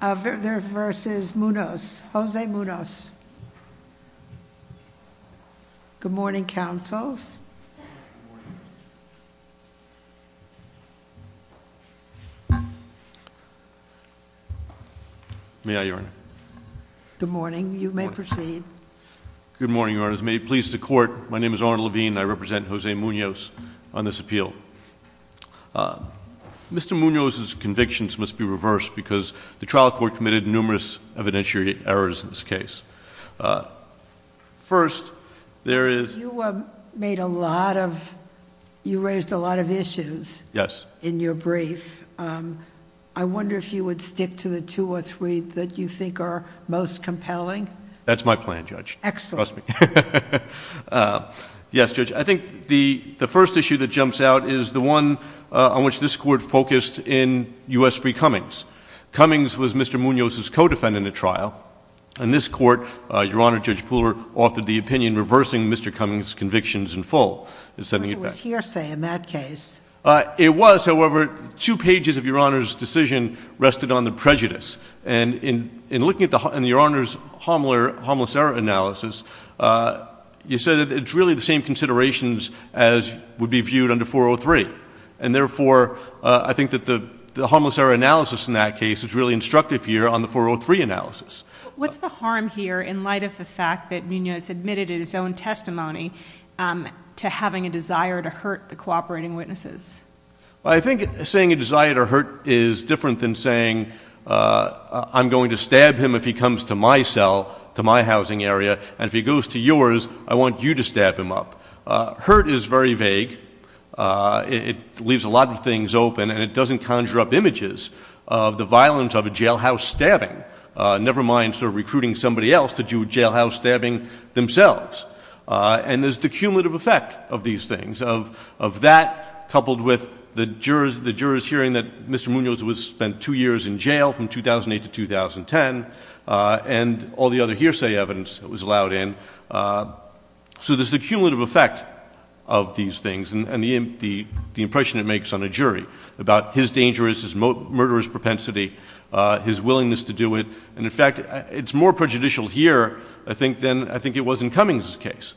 v. Munoz. Jose Munoz. Good morning, councils. May I, Your Honor? Good morning. You may proceed. Good morning, Your Honors. May it please the Court, my name is Arnold Levine and I represent Jose Munoz on this appeal. Mr. Munoz's convictions must be reversed because the trial court committed numerous evidentiary errors in this case. First, there is... You made a lot of... you raised a lot of issues... Yes... in your brief. I wonder if you would stick to the two or three that you think are most compelling? That's my plan, Judge. Excellent. Trust me. Yes, Judge. I think the first issue that jumps out is the one on which this Court focused in U.S. v. Cummings. Cummings was Mr. Munoz's co-defendant at trial. In this Court, Your Honor, Judge Pooler authored the opinion reversing Mr. Cummings' convictions in full. It was hearsay in that case. It was, however, two pages of Your Honor's decision on the prejudice. And in looking at Your Honor's harmless error analysis, you said that it's really the same considerations as would be viewed under 403. And therefore, I think that the harmless error analysis in that case is really instructive here on the 403 analysis. What's the harm here in light of the fact that Munoz admitted in his own testimony to having a desire to hurt the cooperating witnesses? Well, I think saying a desire to hurt is different than saying I'm going to stab him if he comes to my cell, to my housing area, and if he goes to yours, I want you to stab him up. Hurt is very vague. It leaves a lot of things open and it doesn't conjure up images of the violence of a jailhouse stabbing, never mind sort of recruiting somebody else to do jailhouse stabbing themselves. And there's the cumulative effect of these things, of that coupled with the jurors' hearing that Mr. Munoz was spent two years in jail from 2008 to 2010 and all the other hearsay evidence that was allowed in. So there's a cumulative effect of these things and the impression it makes on a jury about his dangerous, his murderous propensity, his willingness to do it. And in fact, it's more prejudicial here, I think, than I think it was in Cummings' case.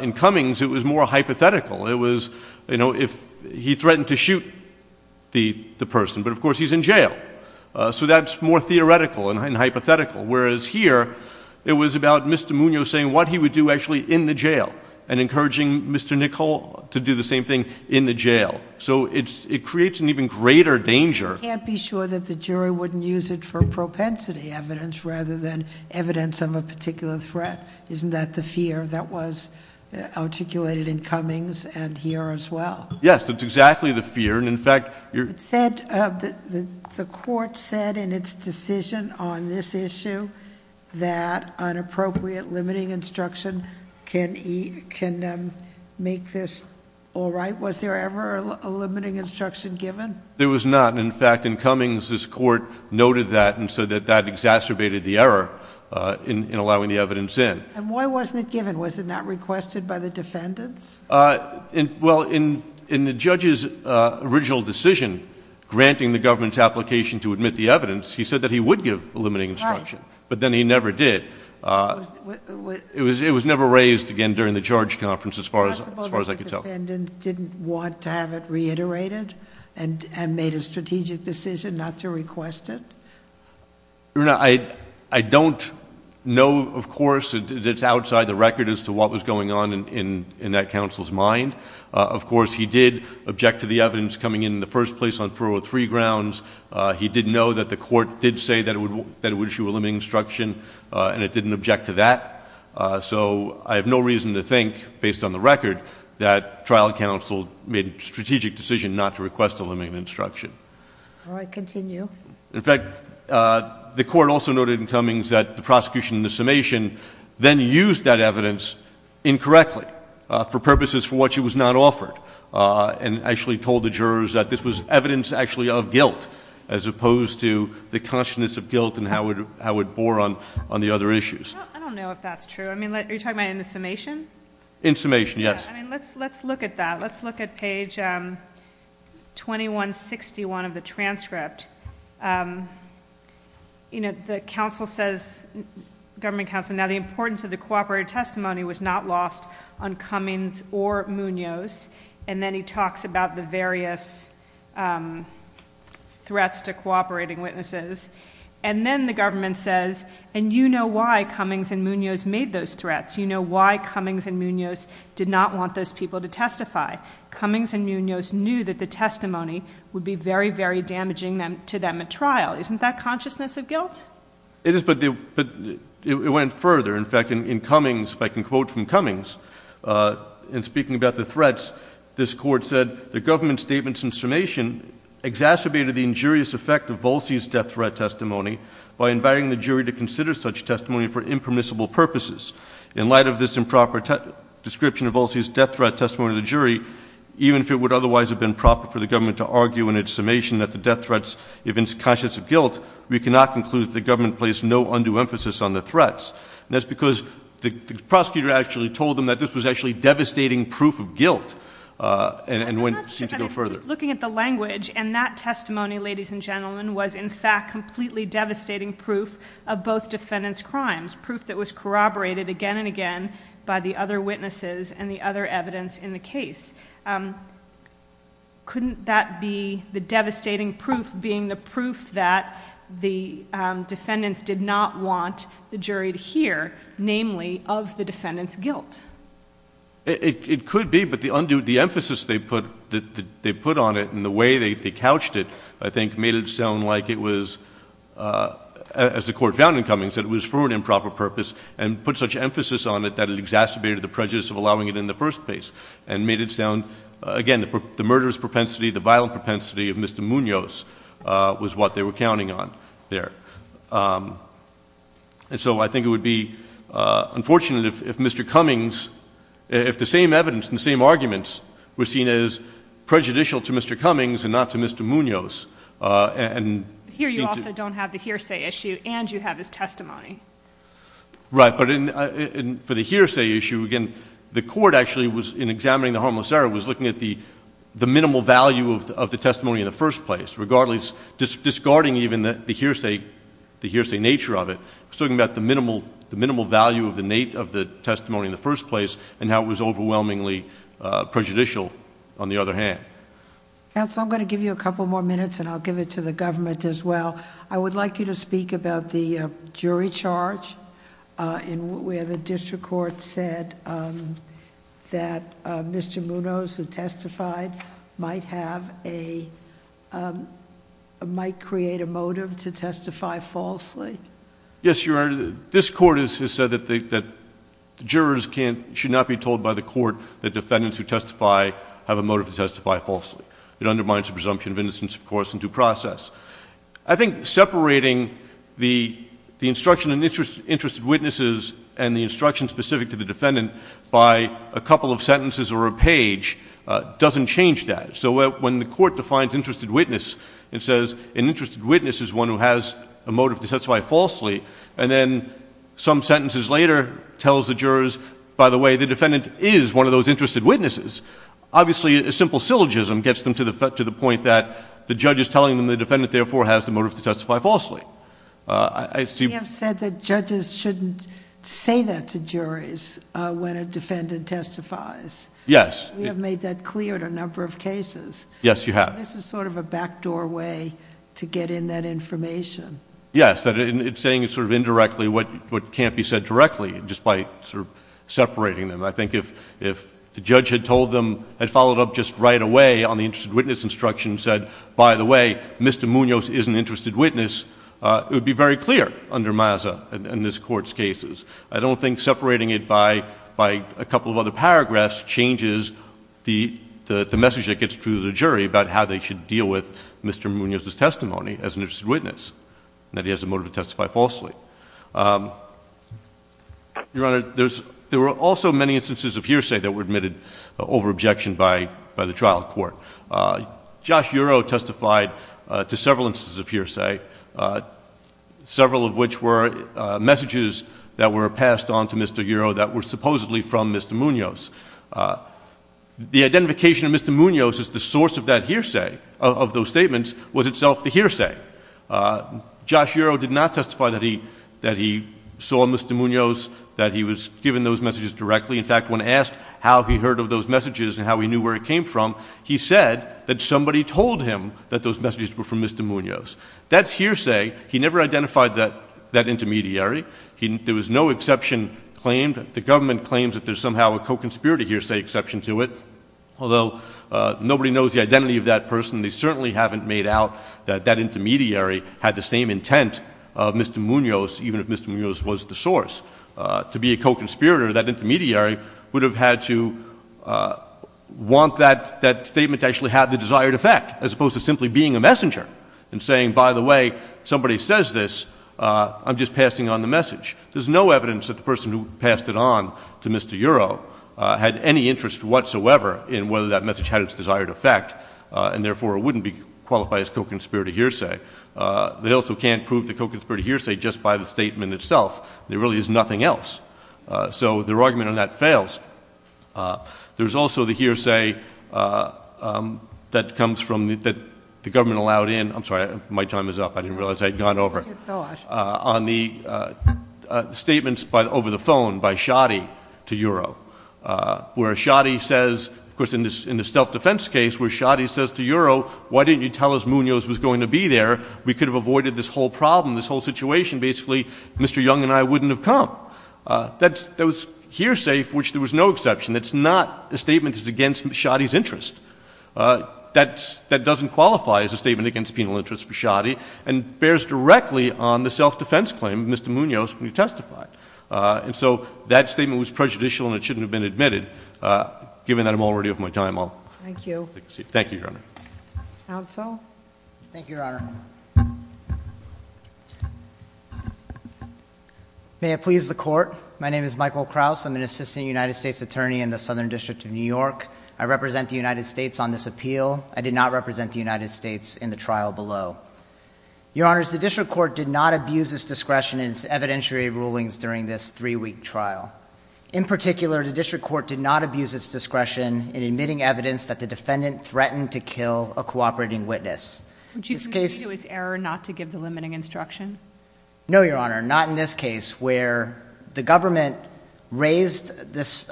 In Cummings, it was more hypothetical. It was, you know, if he threatened to shoot the person, but of course, he was in jail. So that's more theoretical and hypothetical. Whereas here, it was about Mr. Munoz saying what he would do actually in the jail and encouraging Mr. Nichol to do the same thing in the jail. So it creates an even greater danger. You can't be sure that the jury wouldn't use it for propensity evidence rather than evidence of a particular threat. Isn't that the fear that was articulated in Cummings and here as well? Yes, that's exactly the fear. And in fact, you're... It said, the court said in its decision on this issue that inappropriate limiting instruction can make this all right. Was there ever a limiting instruction given? There was not. In fact, in Cummings, this court noted that and said that that exacerbated the error in allowing the evidence in. And why wasn't it given? Was it not requested by the defendants? Well, in the judge's original decision, granting the government's application to admit the evidence, he said that he would give a limiting instruction, but then he never did. It was never raised again during the charge conference as far as I could tell. Is it possible that the defendants didn't want to have it reiterated and made a strategic decision not to request it? Your Honor, I don't know, of course, that it's outside the record as to what was going on in that counsel's mind. Of course, he did object to the evidence coming in in the first place on federal free grounds. He did know that the court did say that it would issue a limiting instruction, and it didn't object to that. So I have no reason to think, based on the record, that trial counsel made a strategic decision not to request a limiting instruction. All right, continue. In fact, the court also noted in Cummings that the prosecution in the summation then used that evidence incorrectly for purposes for which it was not offered, and actually told the jurors that this was evidence actually of guilt, as opposed to the consciousness of guilt and how it bore on the other issues. I don't know if that's true. I mean, are you talking about in the summation? In summation, yes. I mean, let's look at that. Let's look at page 2161 of the transcript. You know, the government counsel says, now the importance of the cooperative testimony was not lost on Cummings or Munoz, and then he talks about the various threats to cooperating witnesses, and then the government says, and you know why Cummings and Munoz made those threats. You know why Cummings and Munoz did not want those people to testify. Cummings and Munoz knew that the testimony would be very, very damaging to them at trial. Isn't that consciousness of guilt? It is, but it went further. In fact, in Cummings, if I can quote from Cummings, in speaking about the threats, this court said, the government statements in summation exacerbated the injurious effect of Volsey's death threat testimony by inviting the jury to consider such testimony for impermissible purposes. In light of this improper description of Volsey's death threat testimony to the jury, even if it would otherwise have been proper for the government to argue in its summation that the death threats evince conscience of guilt, we cannot conclude that the government placed no undue emphasis on the threats. And that's because the prosecutor actually told them that this was actually devastating proof of guilt, and went, seemed to go further. I'm not sure that I'm just looking at the language, and that testimony, ladies and gentlemen, was, in fact, completely devastating proof of both defendants' crimes, proof that was corroborated again and again by the other witnesses and the other evidence in the case. Couldn't that be the devastating proof being the proof that the defendants did not want the jury to hear, namely, of the defendants' guilt? It could be, but the emphasis they put on it and the way they couched it, I think, made it sound like it was, as the Court found in Cummings, that it was for an improper purpose, and put such emphasis on it that it exacerbated the prejudice of allowing it in the first place, and made it sound, again, the murderous propensity, the violent propensity of Mr. Munoz was what they were counting on there. And so I think it would be unfortunate if Mr. Cummings, if the same evidence and the same arguments were seen as prejudicial to Mr. Cummings and not to Mr. Munoz, and seem to— Here you also don't have the hearsay issue, and you have his testimony. Right. But for the hearsay issue, again, the Court actually was, in examining the harmless error, was looking at the minimal value of the testimony in the first place, regardless, discarding even the hearsay nature of it, was looking at the minimal value of the testimony in the first place, and how it was overwhelmingly prejudicial, on the other hand. Counsel, I'm going to give you a couple more minutes, and I'll give it to the government as well. I would like you to speak about the jury charge, where the district court said that Mr. Munoz, who testified, might have a—might create a motive to testify falsely. Yes, Your Honor. This Court has said that the jurors can't—should not be told by the Court that defendants who testify have a motive to testify falsely. It undermines the presumption of innocence, of course, and due process. I think separating the instruction in Interested Witnesses and the instruction specific to the defendant by a couple of sentences or a page doesn't change that. So when the Court defines Interested Witness, it says, an Interested Witness is one who has a motive to testify falsely, and then some sentences later, tells the jurors, by the way, the defendant is one of those Interested Witnesses, obviously, a simple syllogism gets them to the point that the judge is telling them the defendant, therefore, has the motive to testify falsely. I see... You have said that judges shouldn't say that to juries when a defendant testifies. Yes. We have made that clear in a number of cases. Yes, you have. So this is sort of a backdoor way to get in that information. Yes. It's saying sort of indirectly what can't be said directly just by sort of separating them. I think if the judge had told them, had followed up just right away on the Interested Witness instruction and said, by the way, Mr. Munoz is an Interested Witness, it would be very clear under MASA in this Court's cases. I don't think separating it by a couple of other paragraphs changes the message that how they should deal with Mr. Munoz's testimony as an Interested Witness, that he has a motive to testify falsely. Your Honor, there were also many instances of hearsay that were admitted over objection by the trial court. Josh Ureau testified to several instances of hearsay, several of which were messages that were passed on to Mr. Ureau that were supposedly from Mr. Munoz. The identification of Mr. Munoz as the source of that hearsay, of those statements, was itself the hearsay. Josh Ureau did not testify that he saw Mr. Munoz, that he was given those messages directly. In fact, when asked how he heard of those messages and how he knew where it came from, he said that somebody told him that those messages were from Mr. Munoz. That's hearsay. He never identified that intermediary. There was no exception claimed. The government claims that there's somehow a co-conspirator hearsay exception to it, although nobody knows the identity of that person. They certainly haven't made out that that intermediary had the same intent of Mr. Munoz, even if Mr. Munoz was the source. To be a co-conspirator, that intermediary would have had to want that statement to actually have the desired effect, as opposed to simply being a messenger and saying, by the way, somebody says this, I'm just passing on the message. There's no evidence that the person who passed it on to Mr. Ureau had any interest whatsoever in whether that message had its desired effect, and therefore it wouldn't qualify as co-conspirator hearsay. They also can't prove the co-conspirator hearsay just by the statement itself. There really is nothing else. So their argument on that fails. There's also the hearsay that comes from the, that the government allowed in, I'm sorry, my time is up. I didn't realize I had gone over. Just a thought. On the statements over the phone by Shoddy to Ureau. Where Shoddy says, of course in this self-defense case, where Shoddy says to Ureau, why didn't you tell us Munoz was going to be there? We could have avoided this whole problem, this whole situation. Basically, Mr. Young and I wouldn't have come. That's those hearsay for which there was no exception. It's not a statement that's against Shoddy's interest. That doesn't qualify as a statement against penal interest for Shoddy. And bears directly on the self-defense claim, Mr. Munoz, when you testified. And so, that statement was prejudicial and it shouldn't have been admitted. Given that I'm already of my time, I'll- Thank you. Thank you, Your Honor. Counsel? Thank you, Your Honor. May it please the court. My name is Michael Krause. I'm an assistant United States attorney in the Southern District of New York. I represent the United States on this appeal. I did not represent the United States in the trial below. Your Honors, the district court did not abuse its discretion in its evidentiary rulings during this three-week trial. In particular, the district court did not abuse its discretion in admitting evidence that the defendant threatened to kill a cooperating witness. Which you can see was error not to give the limiting instruction. No, Your Honor, not in this case where the government raised this,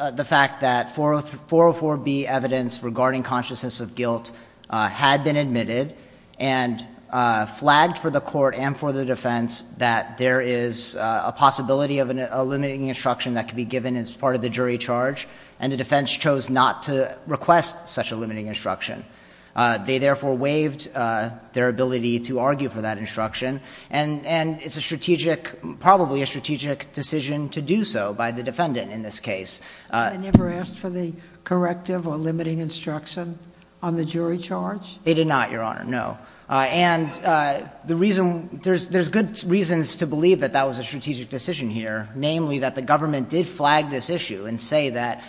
regarding consciousness of guilt, had been admitted and flagged for the court and for the defense that there is a possibility of a limiting instruction that could be given as part of the jury charge. And the defense chose not to request such a limiting instruction. They therefore waived their ability to argue for that instruction. And it's a strategic, probably a strategic decision to do so by the defendant in this case. I never asked for the corrective or limiting instruction on the jury charge. They did not, Your Honor, no. And there's good reasons to believe that that was a strategic decision here. Namely, that the government did flag this issue and say that,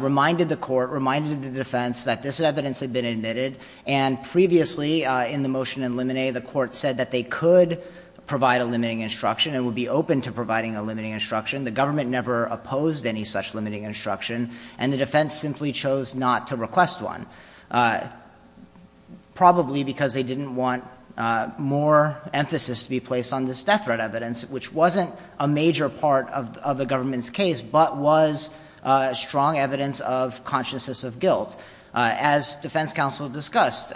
reminded the court, reminded the defense that this evidence had been admitted. And previously, in the motion in limine, the court said that they could provide a limiting instruction and would be open to providing a limiting instruction. The government never opposed any such limiting instruction, and the defense simply chose not to request one. Probably because they didn't want more emphasis to be placed on this death threat evidence, which wasn't a major part of the government's case, but was strong evidence of consciousness of guilt. As defense counsel discussed,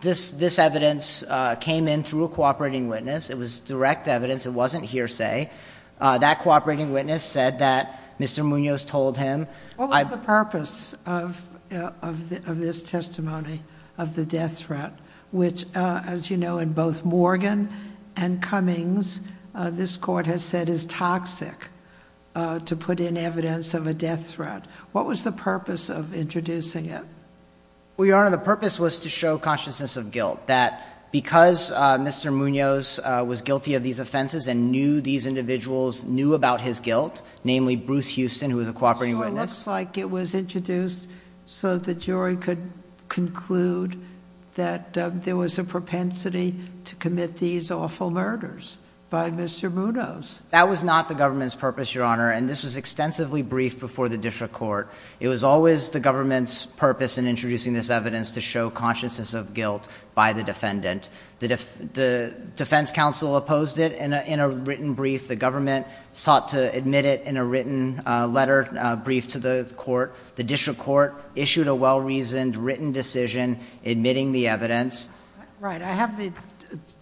this evidence came in through a cooperating witness. It was direct evidence. It wasn't hearsay. That cooperating witness said that Mr. Munoz told him- What was the purpose of this testimony of the death threat? Which, as you know, in both Morgan and Cummings, this court has said is toxic to put in evidence of a death threat. What was the purpose of introducing it? Well, Your Honor, the purpose was to show consciousness of guilt. That because Mr. Munoz was guilty of these offenses and knew these individuals knew about his guilt, namely Bruce Houston, who was a cooperating witness- Sure, looks like it was introduced so the jury could conclude that there was a propensity to commit these awful murders by Mr. Munoz. That was not the government's purpose, Your Honor, and this was extensively briefed before the district court. It was always the government's purpose in introducing this evidence to show consciousness of guilt by the defendant. The defense counsel opposed it in a written brief. The government sought to admit it in a written letter briefed to the court. The district court issued a well-reasoned written decision admitting the evidence. Right, I have the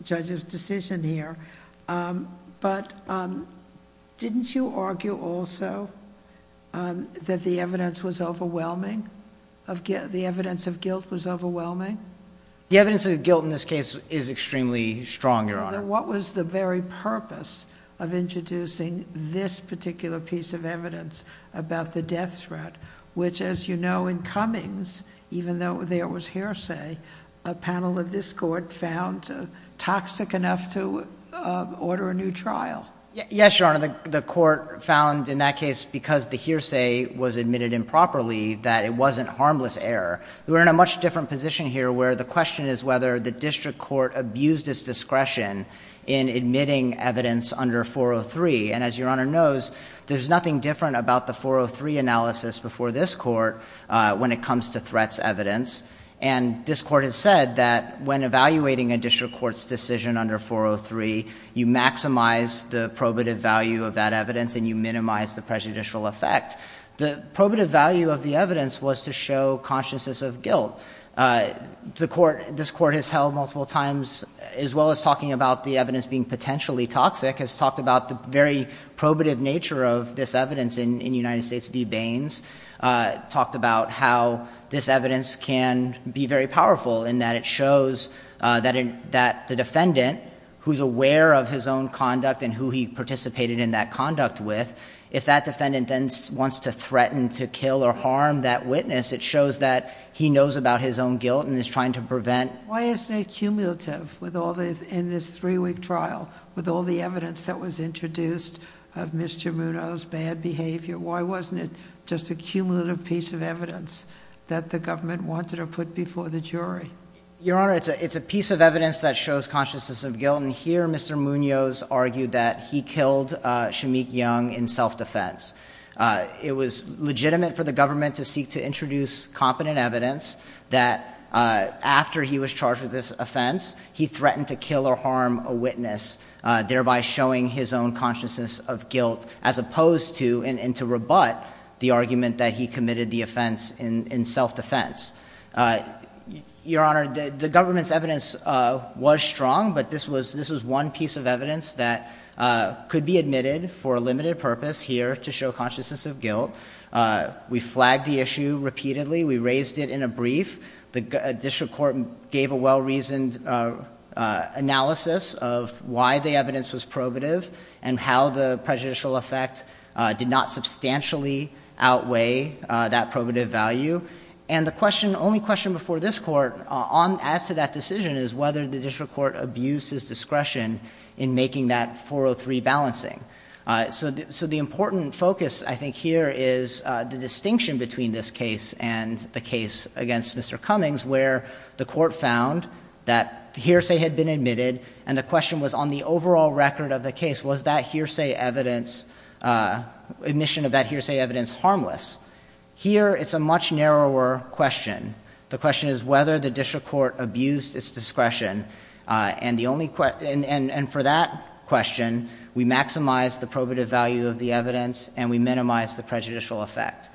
judge's decision here. But didn't you argue also that the evidence of guilt was overwhelming? The evidence of guilt in this case is extremely strong, Your Honor. What was the very purpose of introducing this particular piece of evidence about the death threat? Which, as you know, in Cummings, even though there was hearsay, a panel of this court found toxic enough to order a new trial. Yes, Your Honor, the court found in that case, because the hearsay was admitted improperly, that it wasn't harmless error. We're in a much different position here where the question is whether the district court abused its discretion in admitting evidence under 403. And as Your Honor knows, there's nothing different about the 403 analysis before this court when it comes to threats evidence. And this court has said that when evaluating a district court's decision under 403, you maximize the probative value of that evidence and you minimize the prejudicial effect. The probative value of the evidence was to show consciousness of guilt. This court has held multiple times, as well as talking about the evidence being potentially toxic, has talked about the very probative nature of this evidence in United States v. Baines. Talked about how this evidence can be very powerful in that it shows that the defendant, who's aware of his own conduct and who he participated in that conduct with, if that defendant then wants to threaten to kill or harm that witness, it shows that he knows about his own guilt and is trying to prevent. Why is it cumulative in this three week trial with all the evidence that was introduced of Mr. Muno's bad behavior? Why wasn't it just a cumulative piece of evidence that the government wanted to put before the jury? Your Honor, it's a piece of evidence that shows consciousness of guilt. And here, Mr. Muno's argued that he killed Shameik Young in self-defense. It was legitimate for the government to seek to introduce competent evidence that after he was charged with this offense, he threatened to kill or harm a witness. Thereby showing his own consciousness of guilt as opposed to and to rebut the argument that he committed the offense in self-defense. Your Honor, the government's evidence was strong, but this was one piece of evidence that could be admitted for a limited purpose here to show consciousness of guilt. We flagged the issue repeatedly. We raised it in a brief. The district court gave a well-reasoned analysis of why the evidence was probative and how the prejudicial effect did not substantially outweigh that probative value. And the only question before this court as to that decision is whether the district court abused his discretion in making that 403 balancing. So the important focus, I think, here is the distinction between this case and the case against Mr. Cummings, where the court found that hearsay had been admitted. And the question was, on the overall record of the case, was that hearsay evidence, admission of that hearsay evidence, harmless? Here, it's a much narrower question. The question is whether the district court abused its discretion, and for that question, we maximize the probative value of the evidence, and we minimize the prejudicial effect.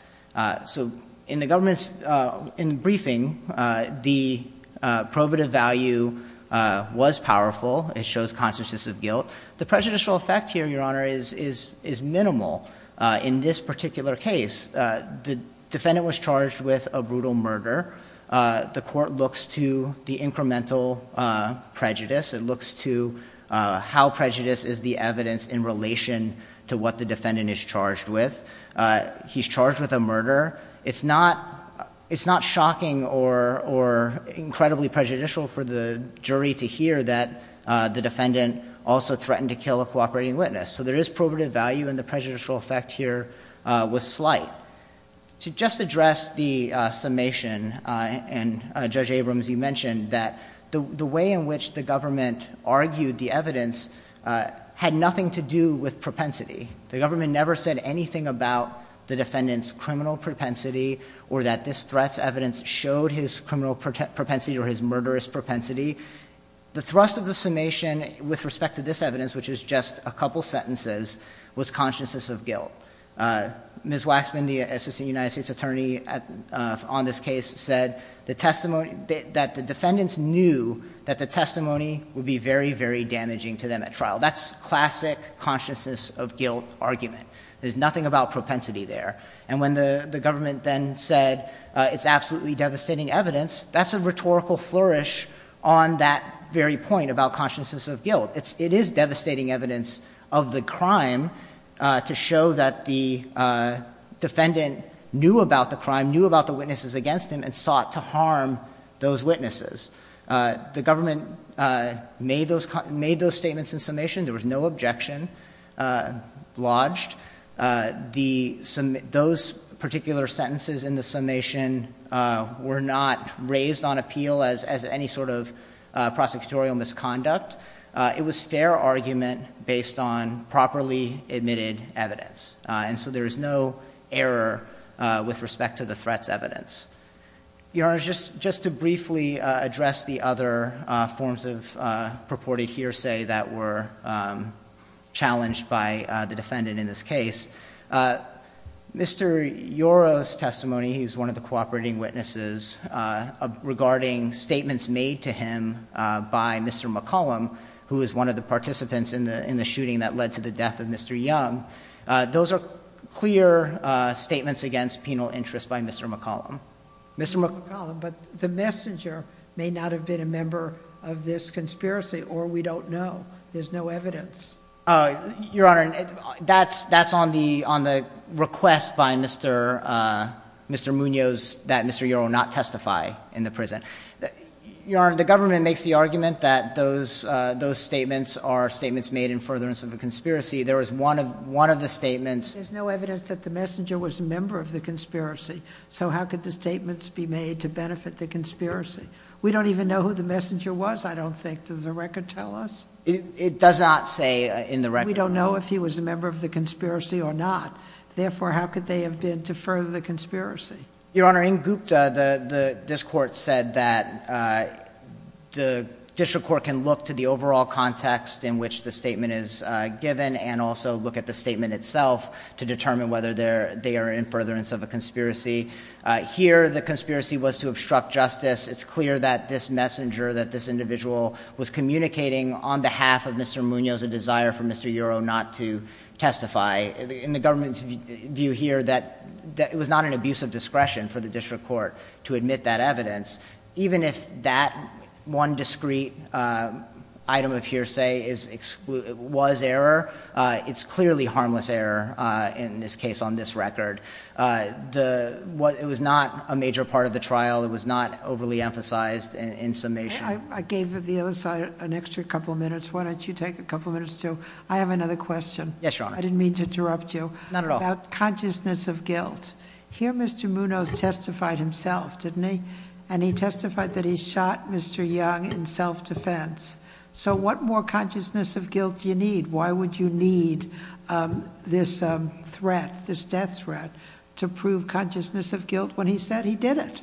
So in the government's briefing, the probative value was powerful. It shows consciousness of guilt. The prejudicial effect here, Your Honor, is minimal in this particular case. The defendant was charged with a brutal murder. The court looks to the incremental prejudice. It looks to how prejudice is the evidence in relation to what the defendant is charged with. He's charged with a murder. It's not shocking or incredibly prejudicial for the jury to hear that the defendant also threatened to kill a cooperating witness. So there is probative value, and the prejudicial effect here was slight. To just address the summation, and Judge Abrams, you mentioned that the way in which the government argued the evidence had nothing to do with propensity. The government never said anything about the defendant's criminal propensity or that this threat's evidence showed his criminal propensity or his murderous propensity. The thrust of the summation with respect to this evidence, which is just a couple sentences, was consciousness of guilt. Ms. Waxman, the Assistant United States Attorney on this case, said that the defendants knew that the testimony would be very, very damaging to them at trial. That's classic consciousness of guilt argument. There's nothing about propensity there. And when the government then said it's absolutely devastating evidence, that's a rhetorical flourish on that very point about consciousness of guilt. It is devastating evidence of the crime to show that the defendant knew about the crime, knew about the witnesses against him, and sought to harm those witnesses. The government made those statements in summation. There was no objection lodged. Those particular sentences in the summation were not raised on appeal as any sort of prosecutorial misconduct. It was fair argument based on properly admitted evidence. And so there is no error with respect to the threat's evidence. Your Honor, just to briefly address the other forms of purported hearsay that were challenged by the defendant in this case. Mr. Yoro's testimony, he's one of the cooperating witnesses, regarding statements made to him by Mr. McCollum, who is one of the participants in the shooting that led to the death of Mr. Young. Those are clear statements against penal interest by Mr. McCollum. Mr. McCollum, but the messenger may not have been a member of this conspiracy, or we don't know. There's no evidence. Your Honor, that's on the request by Mr. Munoz that Mr. Yoro not testify in the prison. Your Honor, the government makes the argument that those statements are statements made in furtherance of a conspiracy. There was one of the statements. There's no evidence that the messenger was a member of the conspiracy. So how could the statements be made to benefit the conspiracy? We don't even know who the messenger was, I don't think. Does the record tell us? It does not say in the record. We don't know if he was a member of the conspiracy or not. Therefore, how could they have been to further the conspiracy? Your Honor, in Gupta, this court said that the district court can look to the overall context in which the statement is given. And also look at the statement itself to determine whether they are in furtherance of a conspiracy. Here, the conspiracy was to obstruct justice. It's clear that this messenger, that this individual was communicating on behalf of Mr. Munoz a desire for Mr. Yoro not to testify. In the government's view here, that it was not an abuse of discretion for the district court to admit that evidence. Even if that one discreet item of hearsay was error, it's clearly harmless error in this case on this record. It was not a major part of the trial. It was not overly emphasized in summation. I gave the other side an extra couple minutes. Why don't you take a couple minutes too? I have another question. Yes, Your Honor. I didn't mean to interrupt you. Not at all. Consciousness of guilt. Here Mr. Munoz testified himself, didn't he? And he testified that he shot Mr. Young in self-defense. So what more consciousness of guilt do you need? Why would you need this threat, this death threat, to prove consciousness of guilt when he said he did it?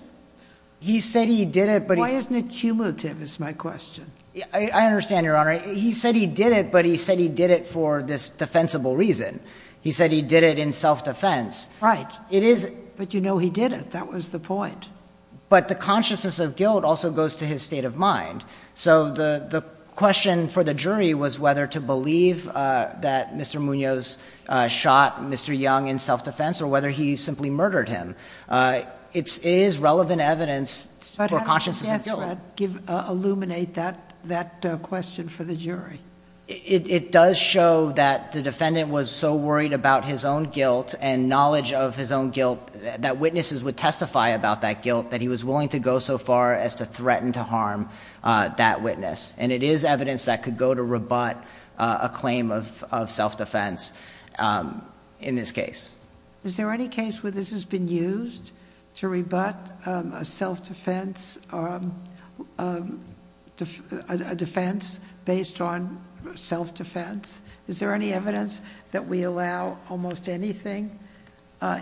He said he did it, but- Why isn't it cumulative is my question. I understand, Your Honor. He said he did it, but he said he did it for this defensible reason. He said he did it in self-defense. Right. It is- But you know he did it. That was the point. But the consciousness of guilt also goes to his state of mind. So the question for the jury was whether to believe that Mr. Munoz shot Mr. Young in self-defense or whether he simply murdered him. It is relevant evidence for consciousness of guilt. But how does the death threat illuminate that question for the jury? It does show that the defendant was so worried about his own guilt and testify about that guilt that he was willing to go so far as to threaten to harm that witness. And it is evidence that could go to rebut a claim of self-defense in this case. Is there any case where this has been used to rebut a self-defense, a defense based on self-defense? Is there any evidence that we allow almost anything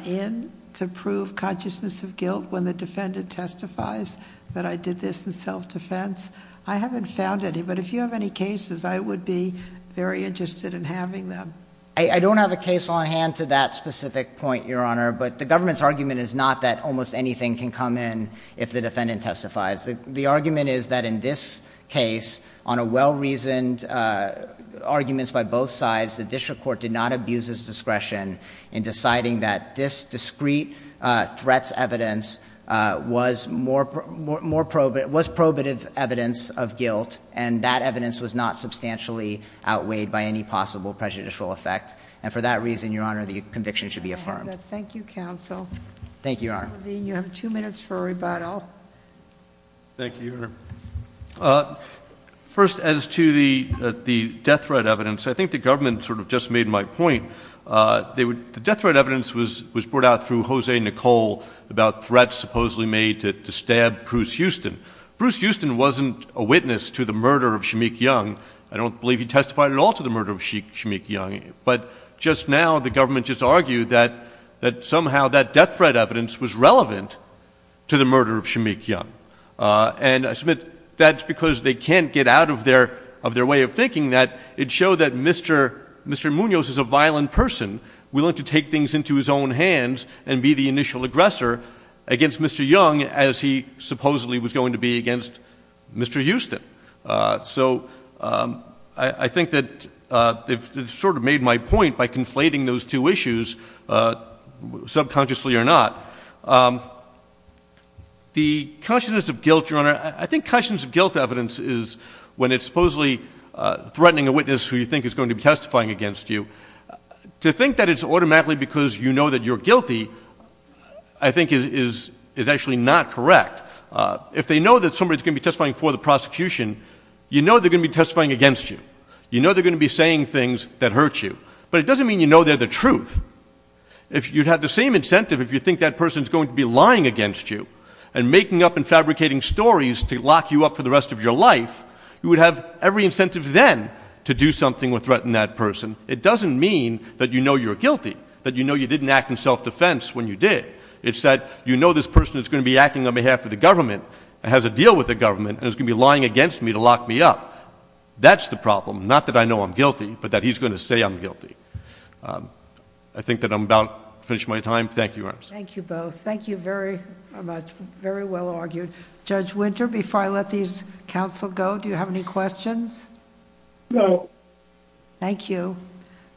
in to prove consciousness of guilt when the defendant testifies that I did this in self-defense? I haven't found any, but if you have any cases, I would be very interested in having them. I don't have a case on hand to that specific point, Your Honor. But the government's argument is not that almost anything can come in if the defendant testifies. The argument is that in this case, on a well-reasoned arguments by both sides, the district court did not abuse its discretion in deciding that this discrete threats evidence was probative evidence of guilt. And that evidence was not substantially outweighed by any possible prejudicial effect. And for that reason, Your Honor, the conviction should be affirmed. Thank you, counsel. Thank you, Your Honor. Mr. Levine, you have two minutes for a rebuttal. Thank you, Your Honor. First, as to the death threat evidence, I think the government sort of just made my point. The death threat evidence was brought out through Jose Nicole about threats supposedly made to stab Bruce Houston. Bruce Houston wasn't a witness to the murder of Shameik Young. I don't believe he testified at all to the murder of Shameik Young. But just now, the government just argued that somehow that death threat evidence was relevant to the murder of Shameik Young. And I submit that's because they can't get out of their way of thinking that it showed that Mr. Munoz is a violent person willing to take things into his own hands and be the initial aggressor against Mr. Young as he supposedly was going to be against Mr. Houston. So I think that they've sort of made my point by conflating those two issues subconsciously or not. The consciousness of guilt, Your Honor, I think consciousness of guilt evidence is when it's supposedly threatening a witness who you think is going to be testifying against you. To think that it's automatically because you know that you're guilty, I think is actually not correct. If they know that somebody's going to be testifying for the prosecution, you know they're going to be testifying against you. You know they're going to be saying things that hurt you. But it doesn't mean you know they're the truth. If you had the same incentive, if you think that person's going to be lying against you and making up and fabricating stories to lock you up for the rest of your life, you would have every incentive then to do something or threaten that person. It doesn't mean that you know you're guilty, that you know you didn't act in self-defense when you did. It's that you know this person is going to be acting on behalf of the government and has a deal with the government and is going to be lying against me to lock me up. That's the problem. Not that I know I'm guilty, but that he's going to say I'm guilty. I think that I'm about to finish my time. Thank you, Your Honor. Thank you both. Thank you very much. Very well argued. Judge Winter, before I let these counsel go, do you have any questions? No. Thank you.